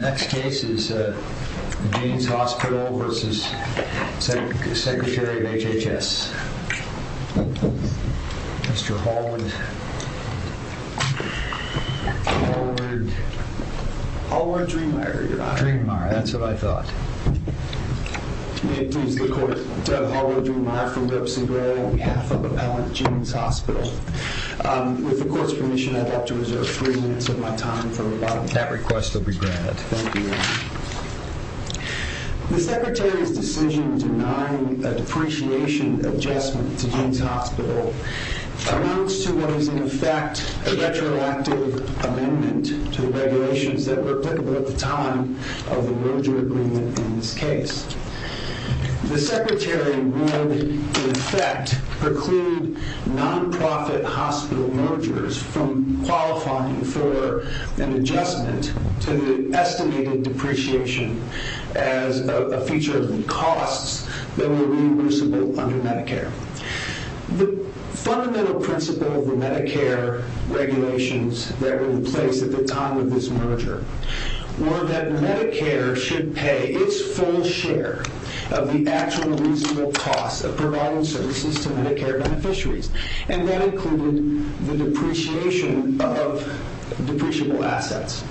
Next case is the Jeanes Hospital v. Secretary of HHS. Mr. Hallward... Hallward... Hallward-Dreemeyer, Your Honor. Dreemeyer, that's what I thought. May it please the Court, Hallward-Dreemeyer from Webster & Gray on behalf of Appellant Jeanes Hospital. With the Court's permission, I'd like to reserve three minutes of my time for... That request will be granted. Thank you. The Secretary's decision denying a depreciation adjustment to Jeanes Hospital amounts to what is in effect a retroactive amendment to the regulations that were applicable at the time of the merger agreement in this case. The Secretary would, in effect, preclude non-profit hospital mergers from qualifying for an adjustment to the estimated depreciation as a feature of the costs that were reimbursable under Medicare. The fundamental principle of the Medicare regulations that were in place at the time of this merger were that Medicare should pay its full share of the actual reasonable costs of providing services to Medicare beneficiaries, and that included the depreciation of depreciable assets.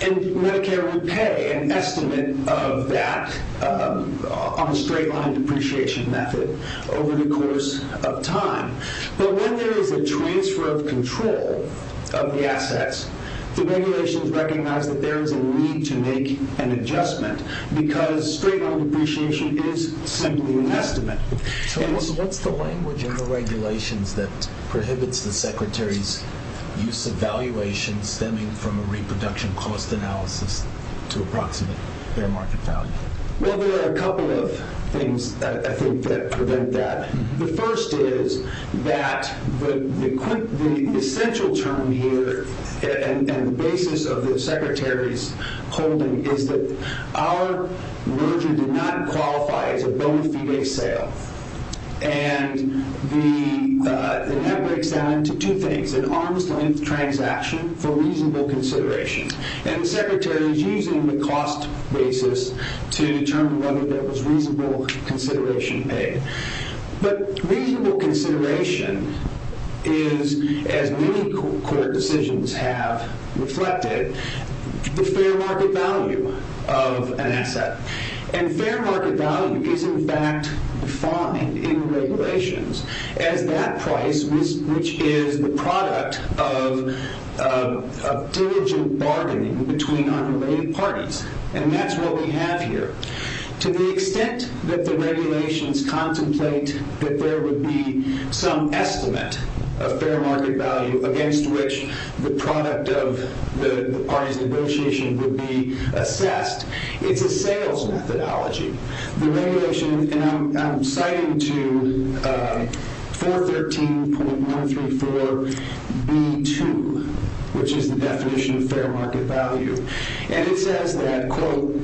And Medicare would pay an estimate of that on a straight-line depreciation method over the course of time. But when there is a transfer of control of the assets, the regulations recognize that there is a need to make an adjustment, because straight-line depreciation is simply an estimate. So what's the language in the regulations that prohibits the Secretary's use of valuation stemming from a reproduction cost analysis to approximate fair market value? Well, there are a couple of things, I think, that prevent that. The first is that the essential term here and the basis of the Secretary's holding is that our merger did not qualify as a bona fide sale. And that breaks down into two things, an arm's-length transaction for reasonable consideration. And the Secretary is using the cost basis to determine whether there was reasonable consideration paid. But reasonable consideration is, as many court decisions have reflected, the fair market value of an asset. And fair market value is, in fact, defined in regulations as that price which is the product of diligent bargaining between unrelated parties. And that's what we have here. To the extent that the regulations contemplate that there would be some estimate of fair market value against which the product of the parties' negotiation would be assessed, it's a sales methodology. The regulation, and I'm citing to 413.134b2, which is the definition of fair market value. And it says that, quote,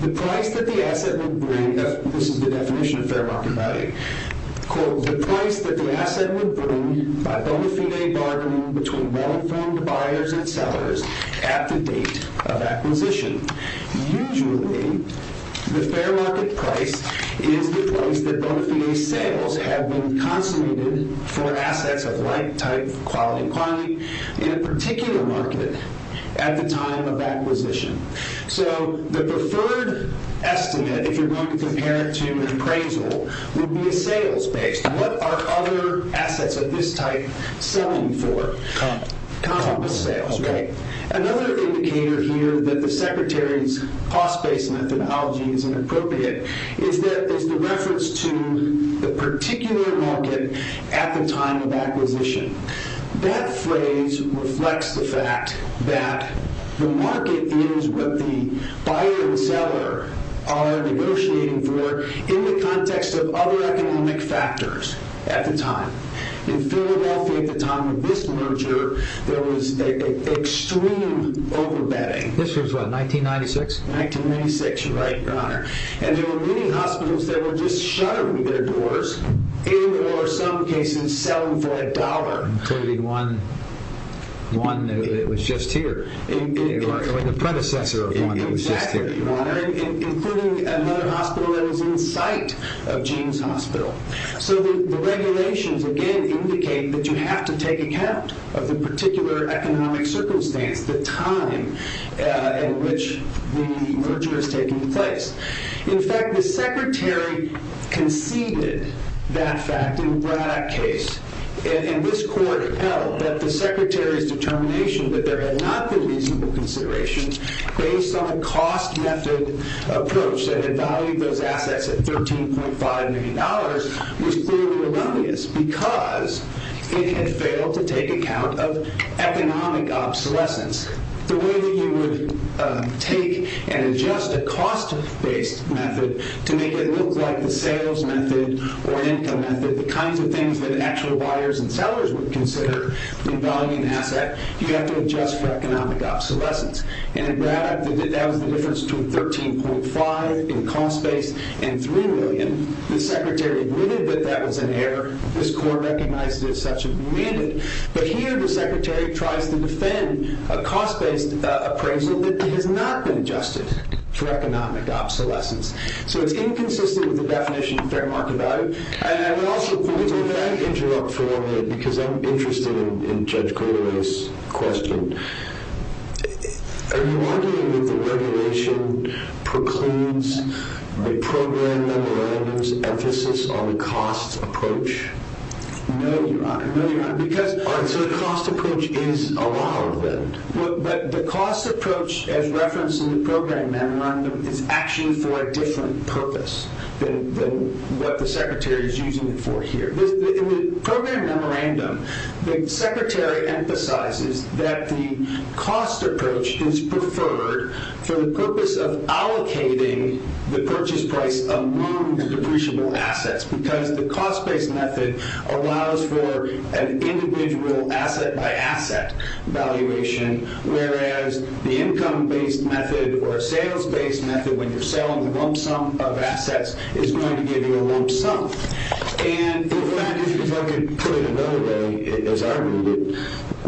the price that the asset would bring, this is the definition of fair market value, quote, the price that the asset would bring by bona fide bargaining between well-informed buyers and sellers at the date of acquisition. Usually, the fair market price is the price that bona fide sales have been consummated for assets of like type, quality, quantity in a particular market at the time of acquisition. So the preferred estimate, if you're going to compare it to an appraisal, would be a sales base. What are other assets of this type selling for? Composite sales, right? Another indicator here that the Secretary's cost-based methodology is inappropriate is the reference to the particular market at the time of acquisition. That phrase reflects the fact that the market is what the buyer and seller are negotiating for in the context of other economic factors at the time. In Philadelphia at the time of this merger, there was extreme overbetting. This was, what, 1996? 1996, right, your honor. And there were many hospitals that were just shuttering their doors, in or some cases selling for a dollar. Including one that was just here. The predecessor of one that was just here. Exactly, your honor. Including another hospital that was in sight of James Hospital. So the regulations, again, indicate that you have to take account of the particular economic circumstance, the time in which the merger is taking place. In fact, the Secretary conceded that fact in the Braddock case. And this court held that the Secretary's determination that there had not been reasonable considerations based on a cost-method approach that had valued those assets at $13.5 million was clearly erroneous because it had failed to take account of economic obsolescence. The way that you would take and adjust a cost-based method to make it look like the sales method or income method, the kinds of things that actual buyers and sellers would consider in valuing an asset, you have to adjust for economic obsolescence. And in Braddock, that was the difference between $13.5 in cost-based and $3 million. The Secretary admitted that that was an error. This court recognized it as such and demanded. But here the Secretary tries to defend a cost-based appraisal that has not been adjusted for economic obsolescence. So it's inconsistent with the definition of fair market value. Can I interrupt for a minute? Because I'm interested in Judge Cruderay's question. Are you arguing that the regulation procludes the program memorandum's emphasis on the cost approach? No, Your Honor. No, Your Honor. So the cost approach is allowed then? But the cost approach as referenced in the program memorandum is actually for a different purpose than what the Secretary is using it for here. In the program memorandum, the Secretary emphasizes that the cost approach is preferred for the purpose of allocating the purchase price among the depreciable assets because the cost-based method allows for an individual asset-by-asset valuation, whereas the income-based method or a sales-based method when you're selling the lump sum of assets is going to give you a lump sum. And if I could put it another way, as I read it,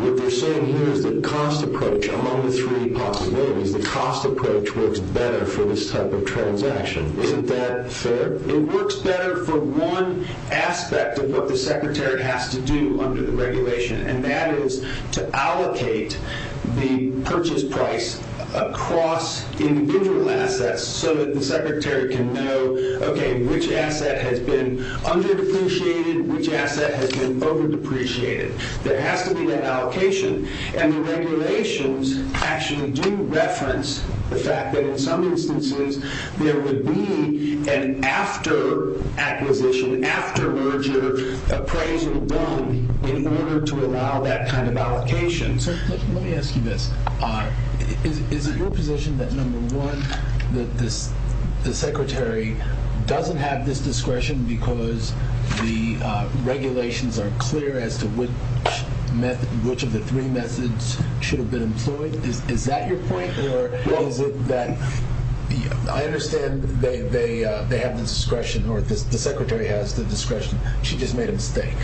what they're saying here is the cost approach among the three possibilities. The cost approach works better for this type of transaction. Isn't that fair? It works better for one aspect of what the Secretary has to do under the regulation, and that is to allocate the purchase price across individual assets so that the Secretary can know, okay, which asset has been under-depreciated, which asset has been over-depreciated. There has to be that allocation. And the regulations actually do reference the fact that in some instances there would be an after-acquisition, after-merger appraisal done in order to allow that kind of allocation. Let me ask you this. Is it your position that, number one, that the Secretary doesn't have this discretion because the regulations are clear as to which of the three methods should have been employed? Is that your point, or is it that I understand they have the discretion or the Secretary has the discretion? She just made a mistake.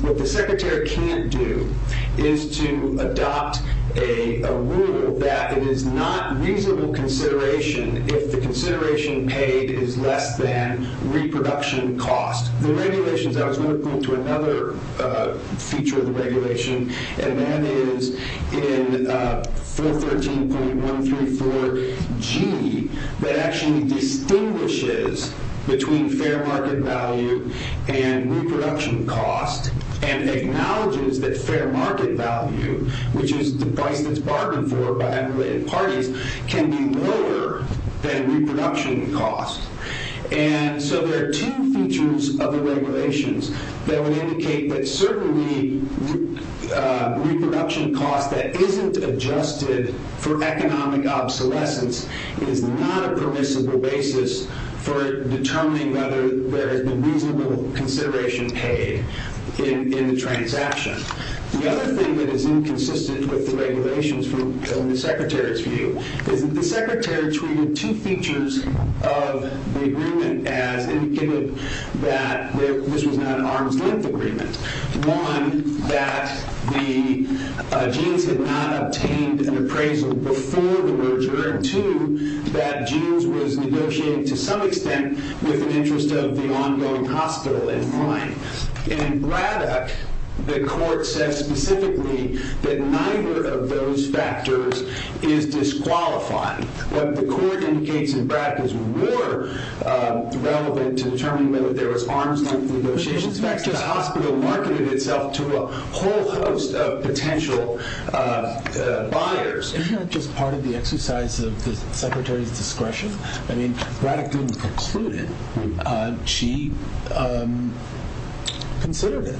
What the Secretary can't do is to adopt a rule that it is not reasonable consideration if the consideration paid is less than reproduction cost. The regulations, I was going to point to another feature of the regulation, and that is in 413.134G that actually distinguishes between fair market value and reproduction cost and acknowledges that fair market value, which is the price that's bargained for by unrelated parties, can be lower than reproduction cost. And so there are two features of the regulations that would indicate that certainly reproduction cost that isn't adjusted for economic obsolescence is not a permissible basis for determining whether there has been reasonable consideration paid in the transaction. The other thing that is inconsistent with the regulations from the Secretary's view is that the Secretary treated two features of the agreement as indicative that this was not an arm's-length agreement. One, that the genes had not obtained an appraisal before the roger, and two, that genes was negotiated to some extent with an interest of the ongoing hospital in mind. In Braddock, the court said specifically that neither of those factors is disqualified. What the court indicates in Braddock is more relevant to determining whether there was arm's-length negotiations. In fact, the hospital marketed itself to a whole host of potential buyers. Isn't that just part of the exercise of the Secretary's discretion? I mean, Braddock didn't conclude it. She considered it.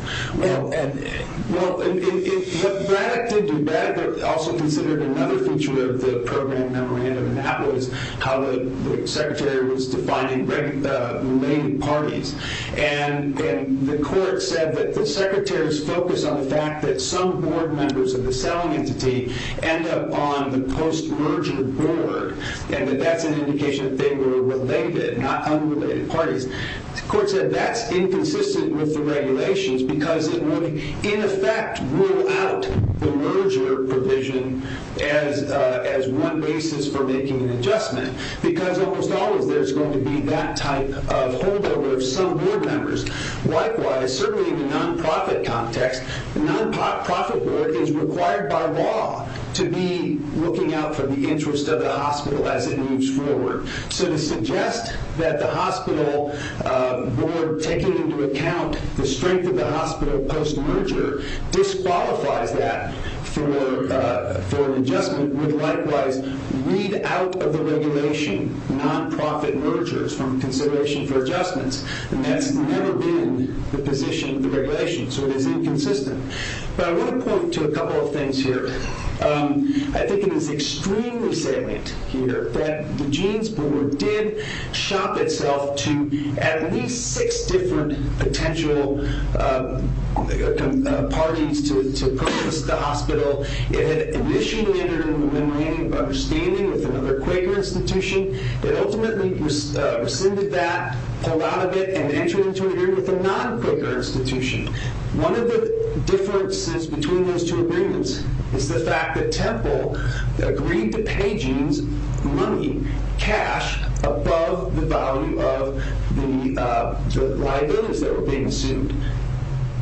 Well, Braddock did do that, but also considered another feature of the program memorandum, and that was how the Secretary was defining related parties. And the court said that the Secretary's focus on the fact that some board members of the selling entity end up on the post-merger board, and that that's an indication that they were related, not unrelated parties. The court said that's inconsistent with the regulations because it would, in effect, rule out the merger provision as one basis for making an adjustment because almost always there's going to be that type of holdover of some board members. Likewise, certainly in the nonprofit context, the nonprofit board is required by law to be looking out for the interest of the hospital as it moves forward. So to suggest that the hospital board taking into account the strength of the hospital post-merger disqualifies that for an adjustment would likewise weed out of the regulation nonprofit mergers from consideration for adjustments, and that's never been the position of the regulation, so it is inconsistent. But I want to point to a couple of things here. I think it is extremely salient here that the Jeans Board did shop itself to at least six different potential parties to purchase the hospital. It initially entered into an agreement of understanding with another Quaker institution. It ultimately rescinded that, pulled out of it, and entered into an agreement with a non-Quaker institution. One of the differences between those two agreements is the fact that Temple agreed to pay Jeans money, cash, above the value of the liabilities that were being sued.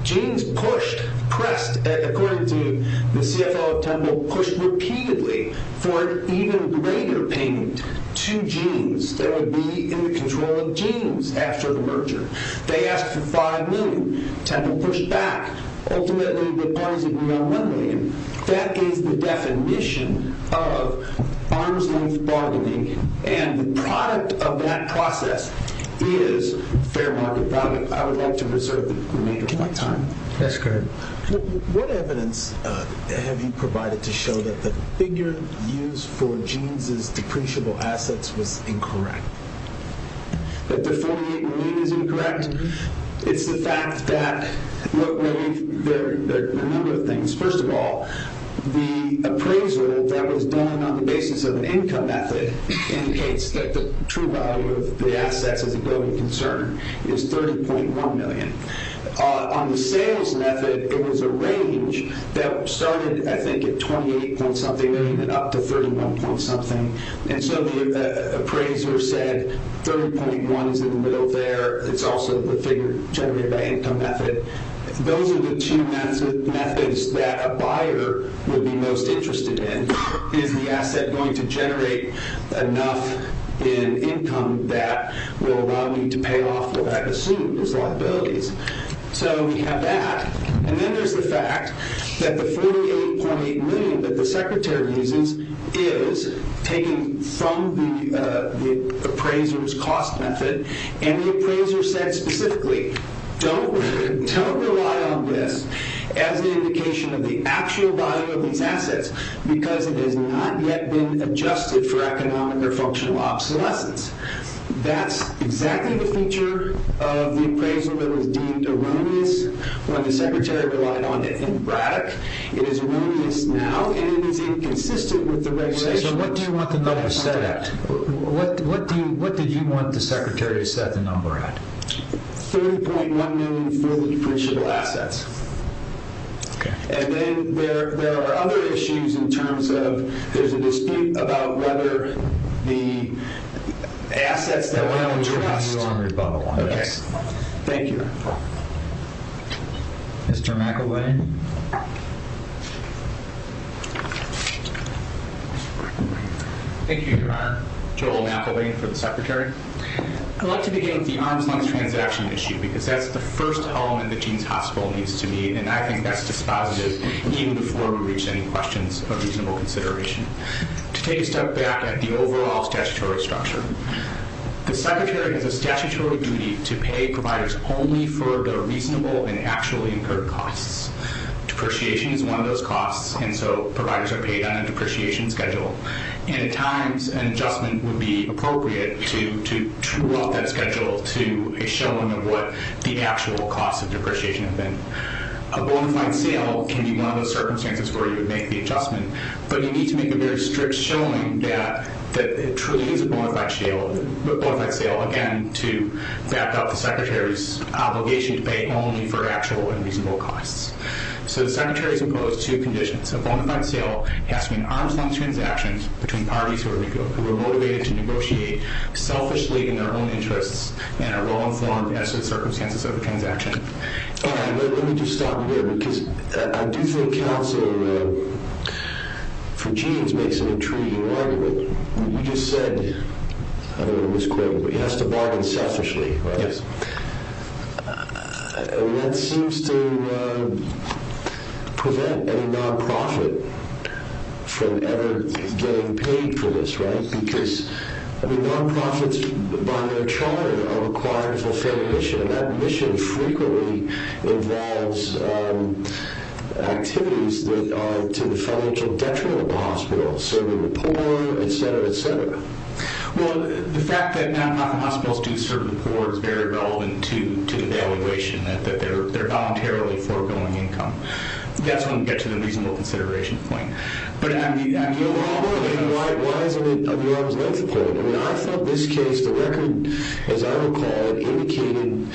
Jeans pushed, pressed, according to the CFO of Temple, pushed repeatedly for an even greater payment to Jeans that would be in the control of Jeans after the merger. They asked for $5 million. Temple pushed back. Ultimately, the parties agreed on $1 million. That is the definition of arm's-length bargaining, and the product of that process is fair market value. I would like to reserve the remainder of my time. That's great. What evidence have you provided to show that the figure used for Jeans' depreciable assets was incorrect? That the $48 million is incorrect? It's the fact that there are a number of things. First of all, the appraisal that was done on the basis of an income method indicates that the true value of the assets as a building concern is $30.1 million. On the sales method, it was a range that started, I think, at $28. something million and up to $31. The appraiser said $30.1 is in the middle there. It's also the figure generated by income method. Those are the two methods that a buyer would be most interested in. Is the asset going to generate enough in income that will allow me to pay off what I assume is liabilities? We have that. Then there's the fact that the $48.8 million that the secretary uses is taken from the appraiser's cost method. The appraiser said specifically, don't rely on this as an indication of the actual value of these assets because it has not yet been adjusted for economic or functional obsolescence. That's exactly the feature of the appraisal that was deemed erroneous when the secretary relied on it in Braddock. It is erroneous now and it is inconsistent with the regulations. What do you want the number set at? What did you want the secretary to set the number at? $30.1 million for the depreciable assets. Then there are other issues in terms of there's a dispute about whether the assets that we don't trust. Thank you. Mr. McElwain. Thank you, Your Honor. Joel McElwain for the secretary. I'd like to begin with the arm's length transaction issue because that's the first element that Jeans Hospital needs to meet. I think that's dispositive even before we reach any questions of reasonable consideration. To take a step back at the overall statutory structure, the secretary has a statutory duty to pay providers only for the reasonable and actually incurred costs. Depreciation is one of those costs and so providers are paid on a depreciation schedule. At times, an adjustment would be appropriate to true up that schedule to a showing of what the actual costs of depreciation have been. A bona fide sale can be one of those circumstances where you would make the adjustment, but you need to make a very strict showing that it truly is a bona fide sale. Again, to back up the secretary's obligation to pay only for actual and reasonable costs. The secretary is opposed to conditions. A bona fide sale has to be an arm's length transaction between parties who are motivated to negotiate selfishly in their own interests and are well informed as to the circumstances of the transaction. All right, let me just stop you there because I do think counsel for Jeans makes an intriguing argument. You just said, I don't know if it was quoted, but he has to bargain selfishly, right? Yes. That seems to prevent any non-profit from ever getting paid for this, right? Because non-profits by their charter are required to fulfill a mission and that mission frequently involves activities that are to the financial detriment of the hospital, serving the poor, et cetera, et cetera. Well, the fact that non-profit hospitals do serve the poor is very relevant to the valuation that they're voluntarily foregoing income. That's when we get to the reasonable consideration point. But I mean, why isn't it an arm's length point? I mean, I thought this case, the record, as I recall, indicated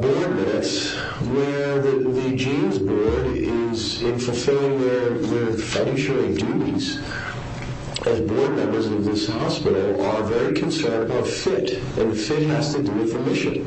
board minutes where the Jeans board is in fulfilling their financial duties as board members of this hospital are very concerned about fit, and fit has to do with the mission.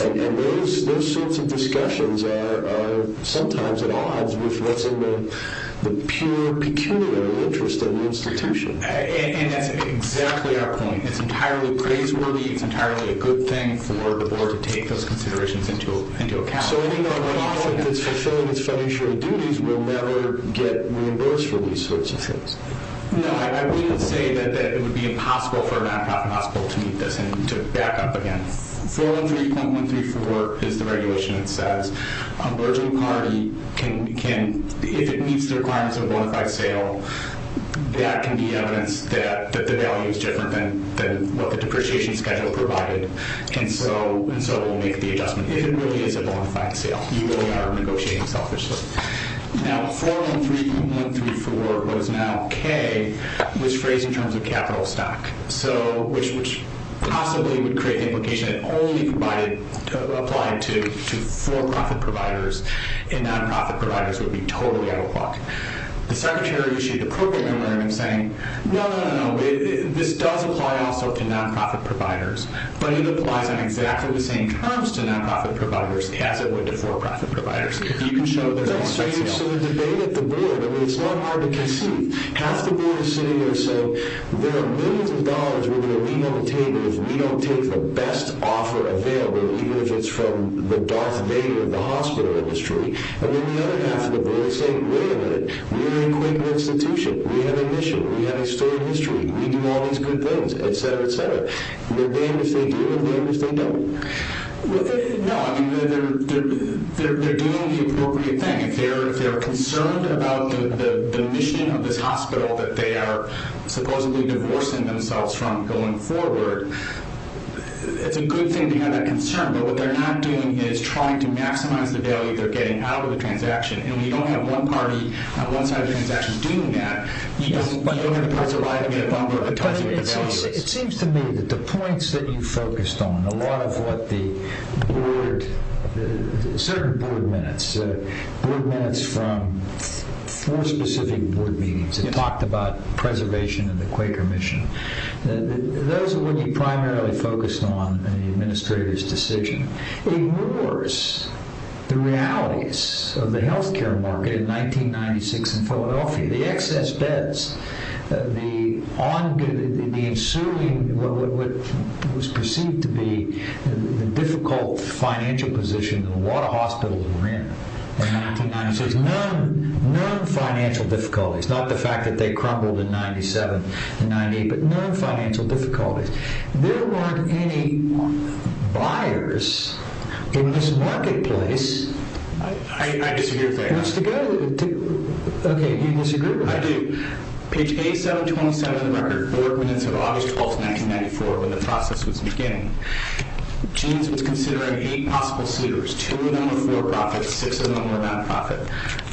And those sorts of discussions are sometimes at odds with what's in the pure, peculiar interest of the institution. And that's exactly our point. It's entirely praiseworthy. It's entirely a good thing for the board to take those considerations into account. So a non-profit that's fulfilling its financial duties will never get reimbursed for these sorts of things? No, I wouldn't say that it would be impossible for a non-profit hospital to meet this and to back up again. 413.134 is the regulation that says a burgeoning party can, if it meets the requirements of a bona fide sale, that can be evidence that the value is different than what the depreciation schedule provided. And so we'll make the adjustment. If it really is a bona fide sale, you really are negotiating selfishly. Now, 413.134 was now K, was phrased in terms of capital stock, which possibly would create the implication that only provided, applied to for-profit providers and non-profit providers would be totally out of luck. The secretary issued a proclamatory saying, no, no, no, no. This does apply also to non-profit providers, but it applies on exactly the same terms to non-profit providers as it would to for-profit providers. If you can show that. So the debate at the board, I mean, it's not hard to conceive. Half the board is sitting there saying there are millions of dollars we're going to leave on the table if we don't take the best offer available, even if it's from the Darth Vader of the hospital industry. And then the other half of the board is saying, wait a minute. We're an equitable institution. We have a mission. We have a story of history. We do all these good things, et cetera, et cetera. What do they understand, do they understand, don't? No, I mean, they're doing the appropriate thing. If they're concerned about the mission of this hospital that they are supposedly divorcing themselves from going forward, it's a good thing to have that concern. But what they're not doing is trying to maximize the value they're getting out of the transaction. And when you don't have one party on one side of the transaction doing that, you don't have the possibility of getting a bumper because of what the value is. It seems to me that the points that you focused on, a lot of what the board, certain board minutes, board minutes from four specific board meetings that talked about preservation and the Quaker mission, those are what you primarily focused on in the administrator's decision, ignores the realities of the health care market in 1996 in Philadelphia, the excess beds, the ensuing what was perceived to be the difficult financial position that a lot of hospitals were in in 1996, non-financial difficulties, not the fact that they crumbled in 97 and 98, but non-financial difficulties. There weren't any buyers in this marketplace. I disagree with that. Okay, you disagree with that. I do. Page A727 of the record, board minutes of August 12, 1994, when the process was beginning. Jeans was considering eight possible suitors, two of them were for-profit, six of them were not-for-profit.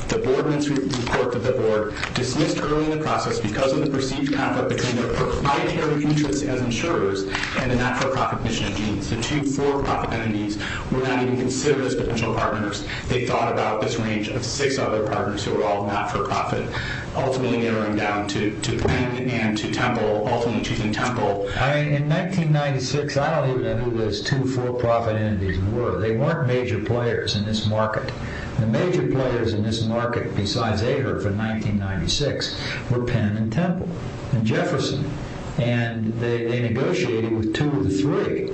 The board minutes report that the board dismissed early in the process because of the perceived conflict between their proprietary interests as insurers and the not-for-profit mission of Jeans. The two for-profit enemies were not even considered as potential partners. They thought about this range of six other partners who were all not-for-profit, ultimately narrowing down to Penn and to Temple, ultimately choosing Temple. In 1996, I don't even know who those two for-profit enemies were. They weren't major players in this market. The major players in this market, besides Ahrefs in 1996, were Penn and Temple and Jefferson, and they negotiated with two of the three.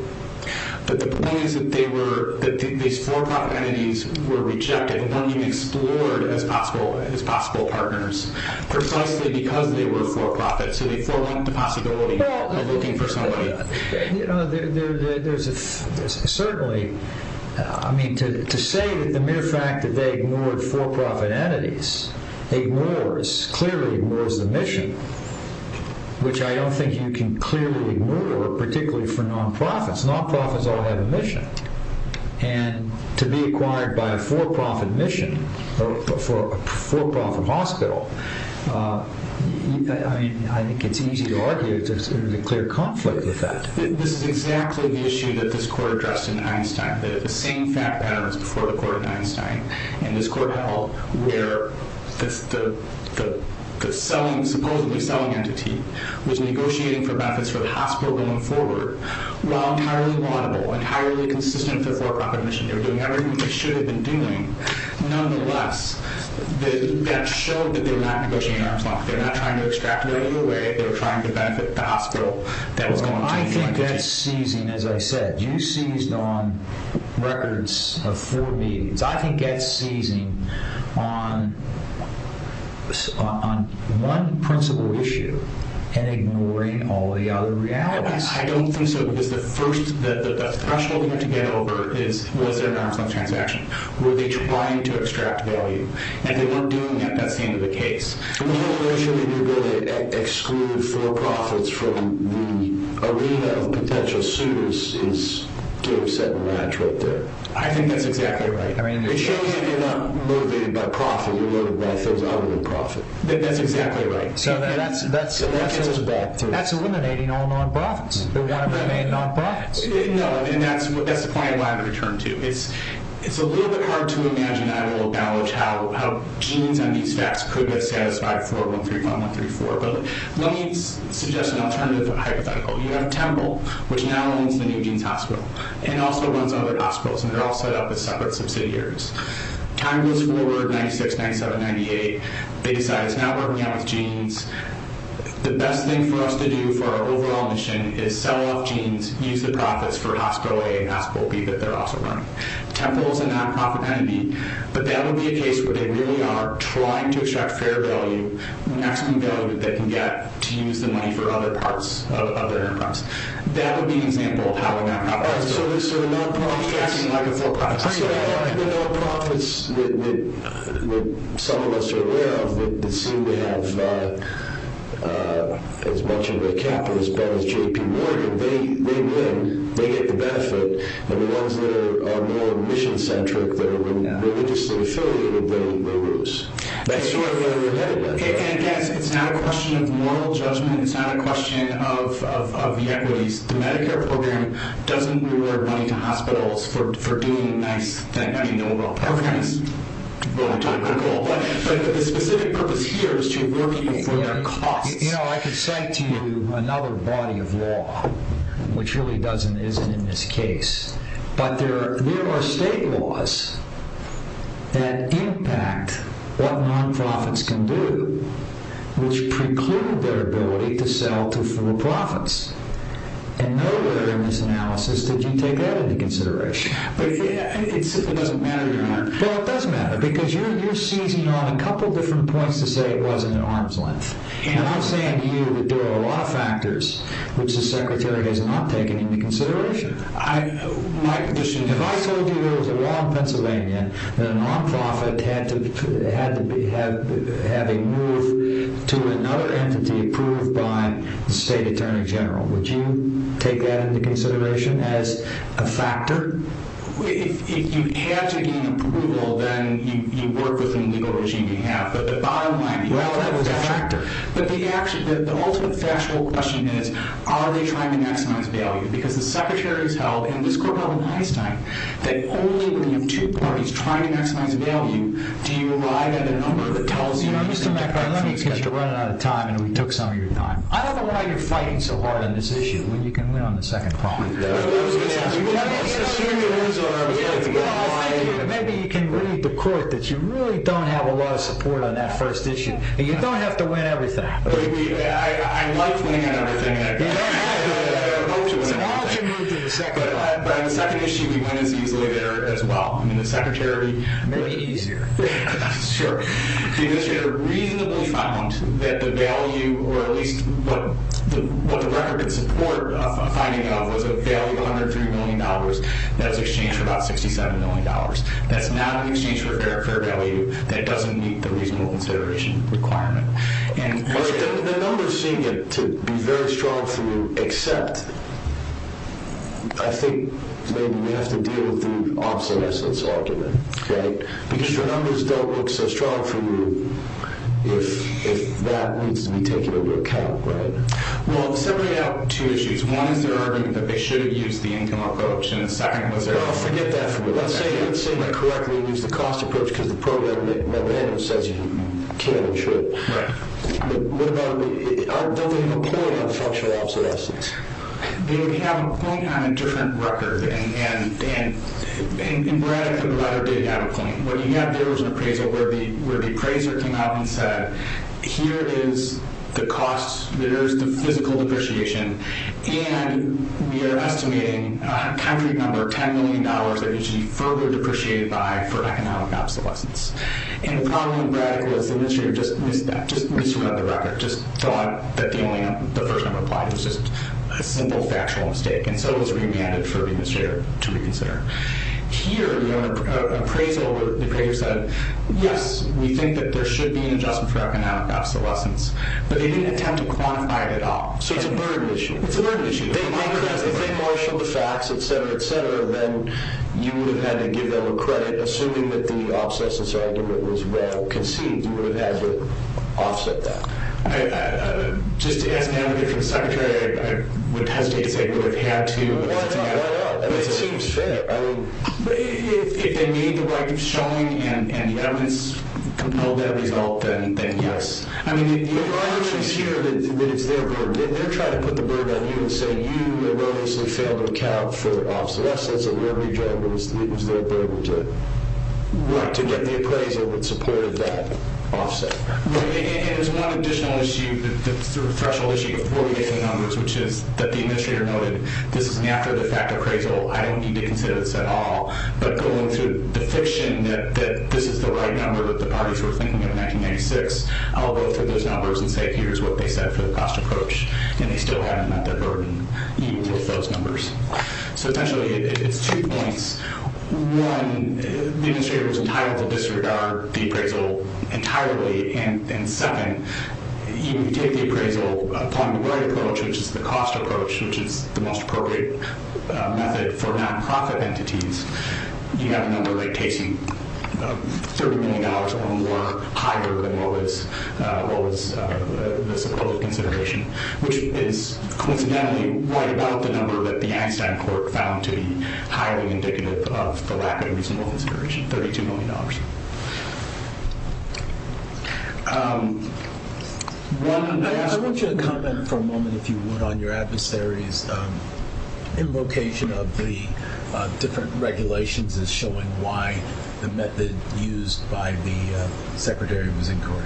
But the point is that these for-profit enemies were rejected, weren't even explored as possible partners, precisely because they were for-profit. So they forewarned the possibility of looking for somebody. Certainly, to say that the mere fact that they ignored for-profit entities clearly ignores the mission, which I don't think you can clearly ignore, particularly for non-profits. Non-profits all have a mission, and to be acquired by a for-profit mission, or for a for-profit hospital, I think it's easy to argue there's a clear conflict with that. This is exactly the issue that this court addressed in Einstein. The same fact pattern was before the court in Einstein, and this court held where the supposedly selling entity was negotiating for benefits for the hospital going forward, while entirely laudable, entirely consistent with the for-profit mission. They were doing everything they should have been doing. Nonetheless, that showed that they're not negotiating an arm's length. They're not trying to extract money away. They're trying to benefit the hospital that was going to the entity. I think that's seizing, as I said. You seized on records of four meetings. I think that's seizing on one principal issue and ignoring all the other realities. I don't think so, because the first question we have to get over is, was there an arm's length transaction? Were they trying to extract value? If they weren't doing that, that's the end of the case. The whole notion that you're going to exclude for-profits from the arena of potential suitors is to a certain range right there. I think that's exactly right. It shows that you're not motivated by profit. You're motivated by things other than profit. That's exactly right. That's eliminating all non-profits. They want to remain non-profits. No, and that's the point I wanted to return to. It's a little bit hard to imagine, I will acknowledge, how genes and these facts could be satisfied for 135134. But let me suggest an alternative hypothetical. You have Temple, which now owns the New Jeans Hospital, and also runs other hospitals, and they're all set up as separate subsidiaries. Time goes forward, 96, 97, 98. They decide it's now working out with genes. The best thing for us to do for our overall mission is sell off genes, use the profits for Hospital A and Hospital B that they're also running. Temple is a non-profit entity, but that would be a case where they really are trying to extract fair value, maximum value that they can get to use the money for other parts of their enterprise. That would be an example of how a non-profit entity would be acting like a for-profit. So the non-profits that some of us are aware of, that seem to have as much of a cap as Ben and JP Morgan, they win. They get the benefit. And the ones that are more mission-centric, that are more religiously affiliated, they lose. That's sort of the reality. And again, it's not a question of moral judgment. It's not a question of the equities. The Medicare program doesn't reward money to hospitals for doing a nice thing that you know about. But the specific purpose here is to reward people for their costs. You know, I could cite to you another body of law, which really doesn't, isn't in this case. But there are state laws that impact what non-profits can do, which preclude their ability to sell to for-profits. And nowhere in this analysis did you take that into consideration. It doesn't matter. Well, it does matter, because you're seizing on a couple different points to say it wasn't an arm's length. And I'm saying to you that there are a lot of factors which the Secretary has not taken into consideration. If I told you there was a law in Pennsylvania that a non-profit had to have a move to another entity approved by the State Attorney General, would you take that into consideration as a factor? If you had to gain approval, then you work with the legal regime you have. But the bottom line, the ultimate factual question is, are they trying to maximize value? Because the Secretary's held in this courtroom in Einstein that only when you have two parties trying to maximize value, do you arrive at a number that tells you that you have to run out of time, and we took some of your time. I don't know why you're fighting so hard on this issue when you can win on the second problem. Maybe you can read the court that you really don't have a lot of support on that first issue. You don't have to win everything. I love winning on everything. I hope to win everything. But on the second issue, we went as easily there as well. Maybe easier. Sure. The Administrator reasonably found that the value, or at least what the record could support a finding of, was a value of $103 million that was exchanged for about $67 million. That's not an exchange for a fair value. That doesn't meet the reasonable consideration requirement. The numbers seem to be very strong for you, except I think maybe we have to deal with the obsolescence argument. Because your numbers don't look so strong for you if that needs to be taken into account. Well, it's separating out two issues. One is they're arguing that they should have used the income approach, and the second was their— What about the point of structural obsolescence? They have a point on a different record. And Brad and the provider did have a point. What you have here is an appraisal where the appraiser came out and said, here is the cost, here is the physical depreciation, and we are estimating a country number of $10 million that needs to be further depreciated by for economic obsolescence. And the problem with Brad was the administrator just missed another record, just thought that the first number applied. It was just a simple factual mistake. And so it was remanded for the administrator to reconsider. Here, the appraiser said, yes, we think that there should be an adjustment for economic obsolescence. But they didn't attempt to quantify it at all. So it's a burden issue. It's a burden issue. If they marshaled the facts, et cetera, et cetera, then you would have had to give them a credit, assuming that the obsolescence argument was well conceived. You would have had to offset that. Just as an advocate for the secretary, I would hesitate to say we would have had to. Why not? It seems fair. I mean, if they made the right showing and the evidence compelled that result, then yes. I'm not sure that it's their burden. They're trying to put the burden on you and say you erroneously failed to account for obsolescence. And the only job is their burden to get the appraisal that supported that offset. And there's one additional issue, the sort of threshold issue, before we get to the numbers, which is that the administrator noted this is an after-the-fact appraisal. I don't need to consider this at all. But going through the fiction that this is the right number that the parties were thinking of in 1996, I'll go through those numbers and say here's what they said for the cost approach. And they still haven't met their burden, even with those numbers. So, essentially, it's two points. One, the administrator was entitled to disregard the appraisal entirely. And second, even if you take the appraisal upon the right approach, which is the cost approach, which is the most appropriate method for nonprofit entities, you have a number that takes you $30 million or more higher than what was the supposed consideration, which is coincidentally right about the number that the Einstein Court found to be highly indicative of the lack of a reasonable consideration, $32 million. I want you to comment for a moment, if you would, on your adversary's invocation of the different regulations as showing why the method used by the secretary was in court.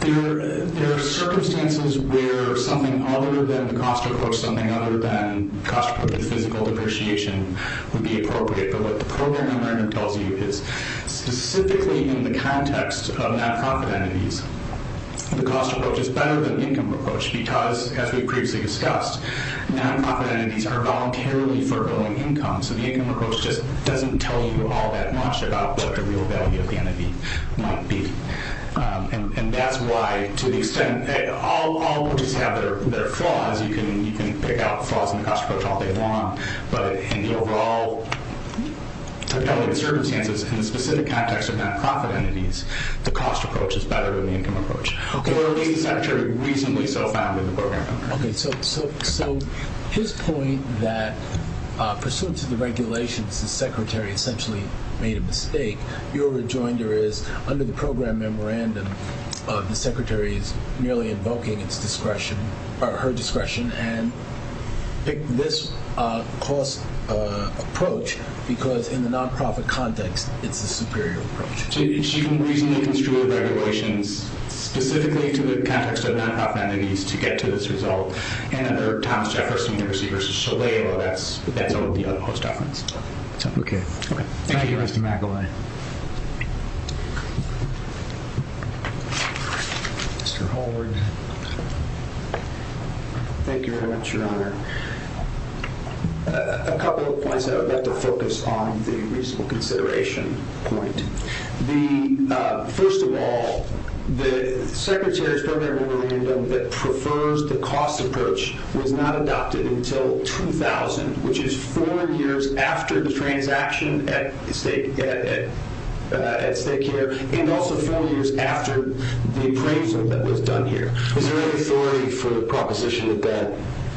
There are circumstances where something other than the cost approach, something other than cost-approved physical depreciation would be appropriate. But what the program in learning tells you is specifically in the context of nonprofit entities, the cost approach is better than the income approach because, as we previously discussed, nonprofit entities are voluntarily forgoing income. So the income approach just doesn't tell you all that much about what the real value of the entity might be. And that's why, to the extent that all entities have their flaws, you can pick out flaws in the cost approach all day long. But in the overall circumstances, in the specific context of nonprofit entities, the cost approach is better than the income approach. Or at least, actually, reasonably so found in the program. Okay, so his point that, pursuant to the regulations, the secretary essentially made a mistake, your rejoinder is, under the program memorandum, the secretary is merely invoking her discretion and picked this cost approach because, in the nonprofit context, it's the superior approach. She didn't reasonably construe the regulations specifically to the context of nonprofit entities to get to this result. And under Thomas Jefferson University versus Shalala, that's over the other post-office. Okay. Thank you, Mr. McEvoy. Mr. Holward. Thank you very much, Your Honor. A couple of points I would like to focus on, the reasonable consideration point. First of all, the secretary's program memorandum that prefers the cost approach was not adopted until 2000, which is four years after the transaction at stake here and also four years after the appraisal that was done here. Is there any authority for the proposition that that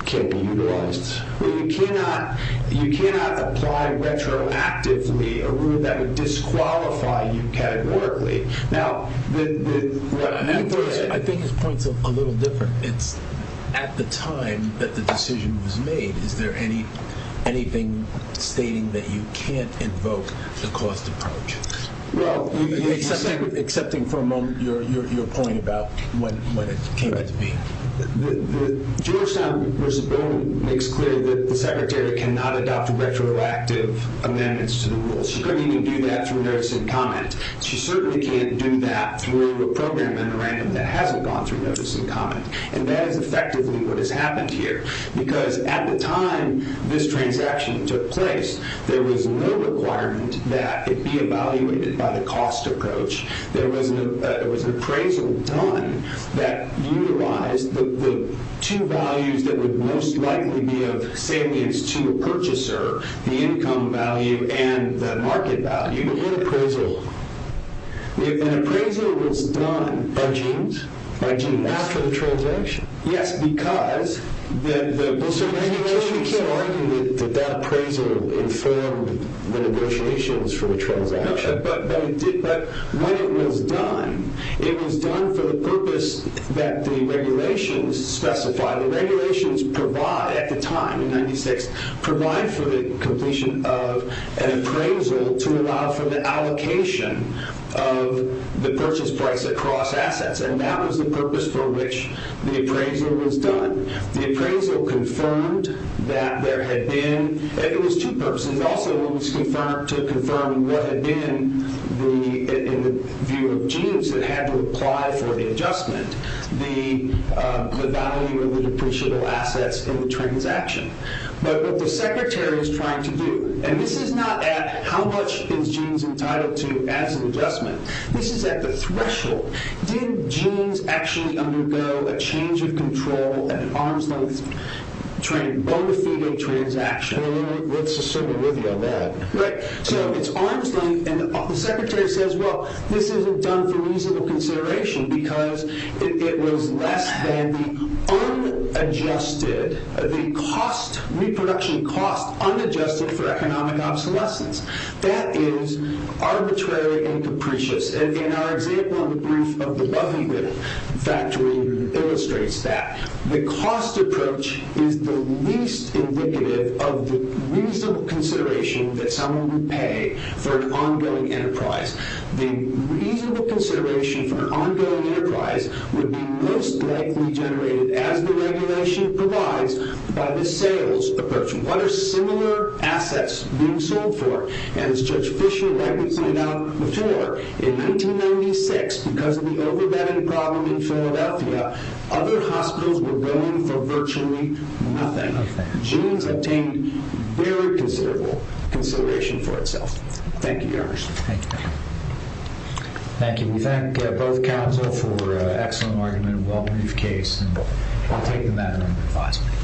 can't be utilized? You cannot apply retroactively a rule that would disqualify you categorically. I think his point's a little different. At the time that the decision was made, is there anything stating that you can't invoke the cost approach? Excepting for a moment your point about when it came into being. Georgetown versus Bowman makes clear that the secretary cannot adopt retroactive amendments to the rules. She couldn't even do that through notice and comment. She certainly can't do that through a program memorandum that hasn't gone through notice and comment, and that is effectively what has happened here because at the time this transaction took place, there was no requirement that it be evaluated by the cost approach. There was an appraisal done that utilized the two values that would most likely be of salience to a purchaser, the income value and the market value in appraisal. An appraisal was done by jeans after the transaction? Yes, because the... So you can't argue that that appraisal informed the negotiations for the transaction. But when it was done, it was done for the purpose that the regulations specify. The regulations provide, at the time in 96, provide for the completion of an appraisal to allow for the allocation of the purchase price across assets, and that was the purpose for which the appraisal was done. The appraisal confirmed that there had been... It was two purposes. It also was to confirm what had been, in the view of jeans, that had to apply for the adjustment. The value of the depreciable assets in the transaction. But what the secretary is trying to do, and this is not at how much is jeans entitled to as an adjustment. This is at the threshold. Did jeans actually undergo a change of control at an arm's length, bone-to-fetal transaction? Well, let's assume we're with you on that. Right. So it's arm's length, and the secretary says, well, this isn't done for reasonable consideration because it was less than the unadjusted, the cost, reproduction cost, unadjusted for economic obsolescence. That is arbitrary and capricious. And our example in the brief of the Loveyville factory illustrates that. The cost approach is the least indicative of the reasonable consideration that someone would pay for an ongoing enterprise. The reasonable consideration for an ongoing enterprise would be most likely generated, as the regulation provides, by the sales approach. What are similar assets being sold for? As Judge Fischer rightly pointed out before, in 1996, because of the overbearing problem in Philadelphia, other hospitals were willing for virtually nothing. Jeans obtained very considerable consideration for itself. Thank you, Your Honor. Thank you. Thank you. We thank both counsel for an excellent argument and a well-proved case. And we'll take the matter under advisement.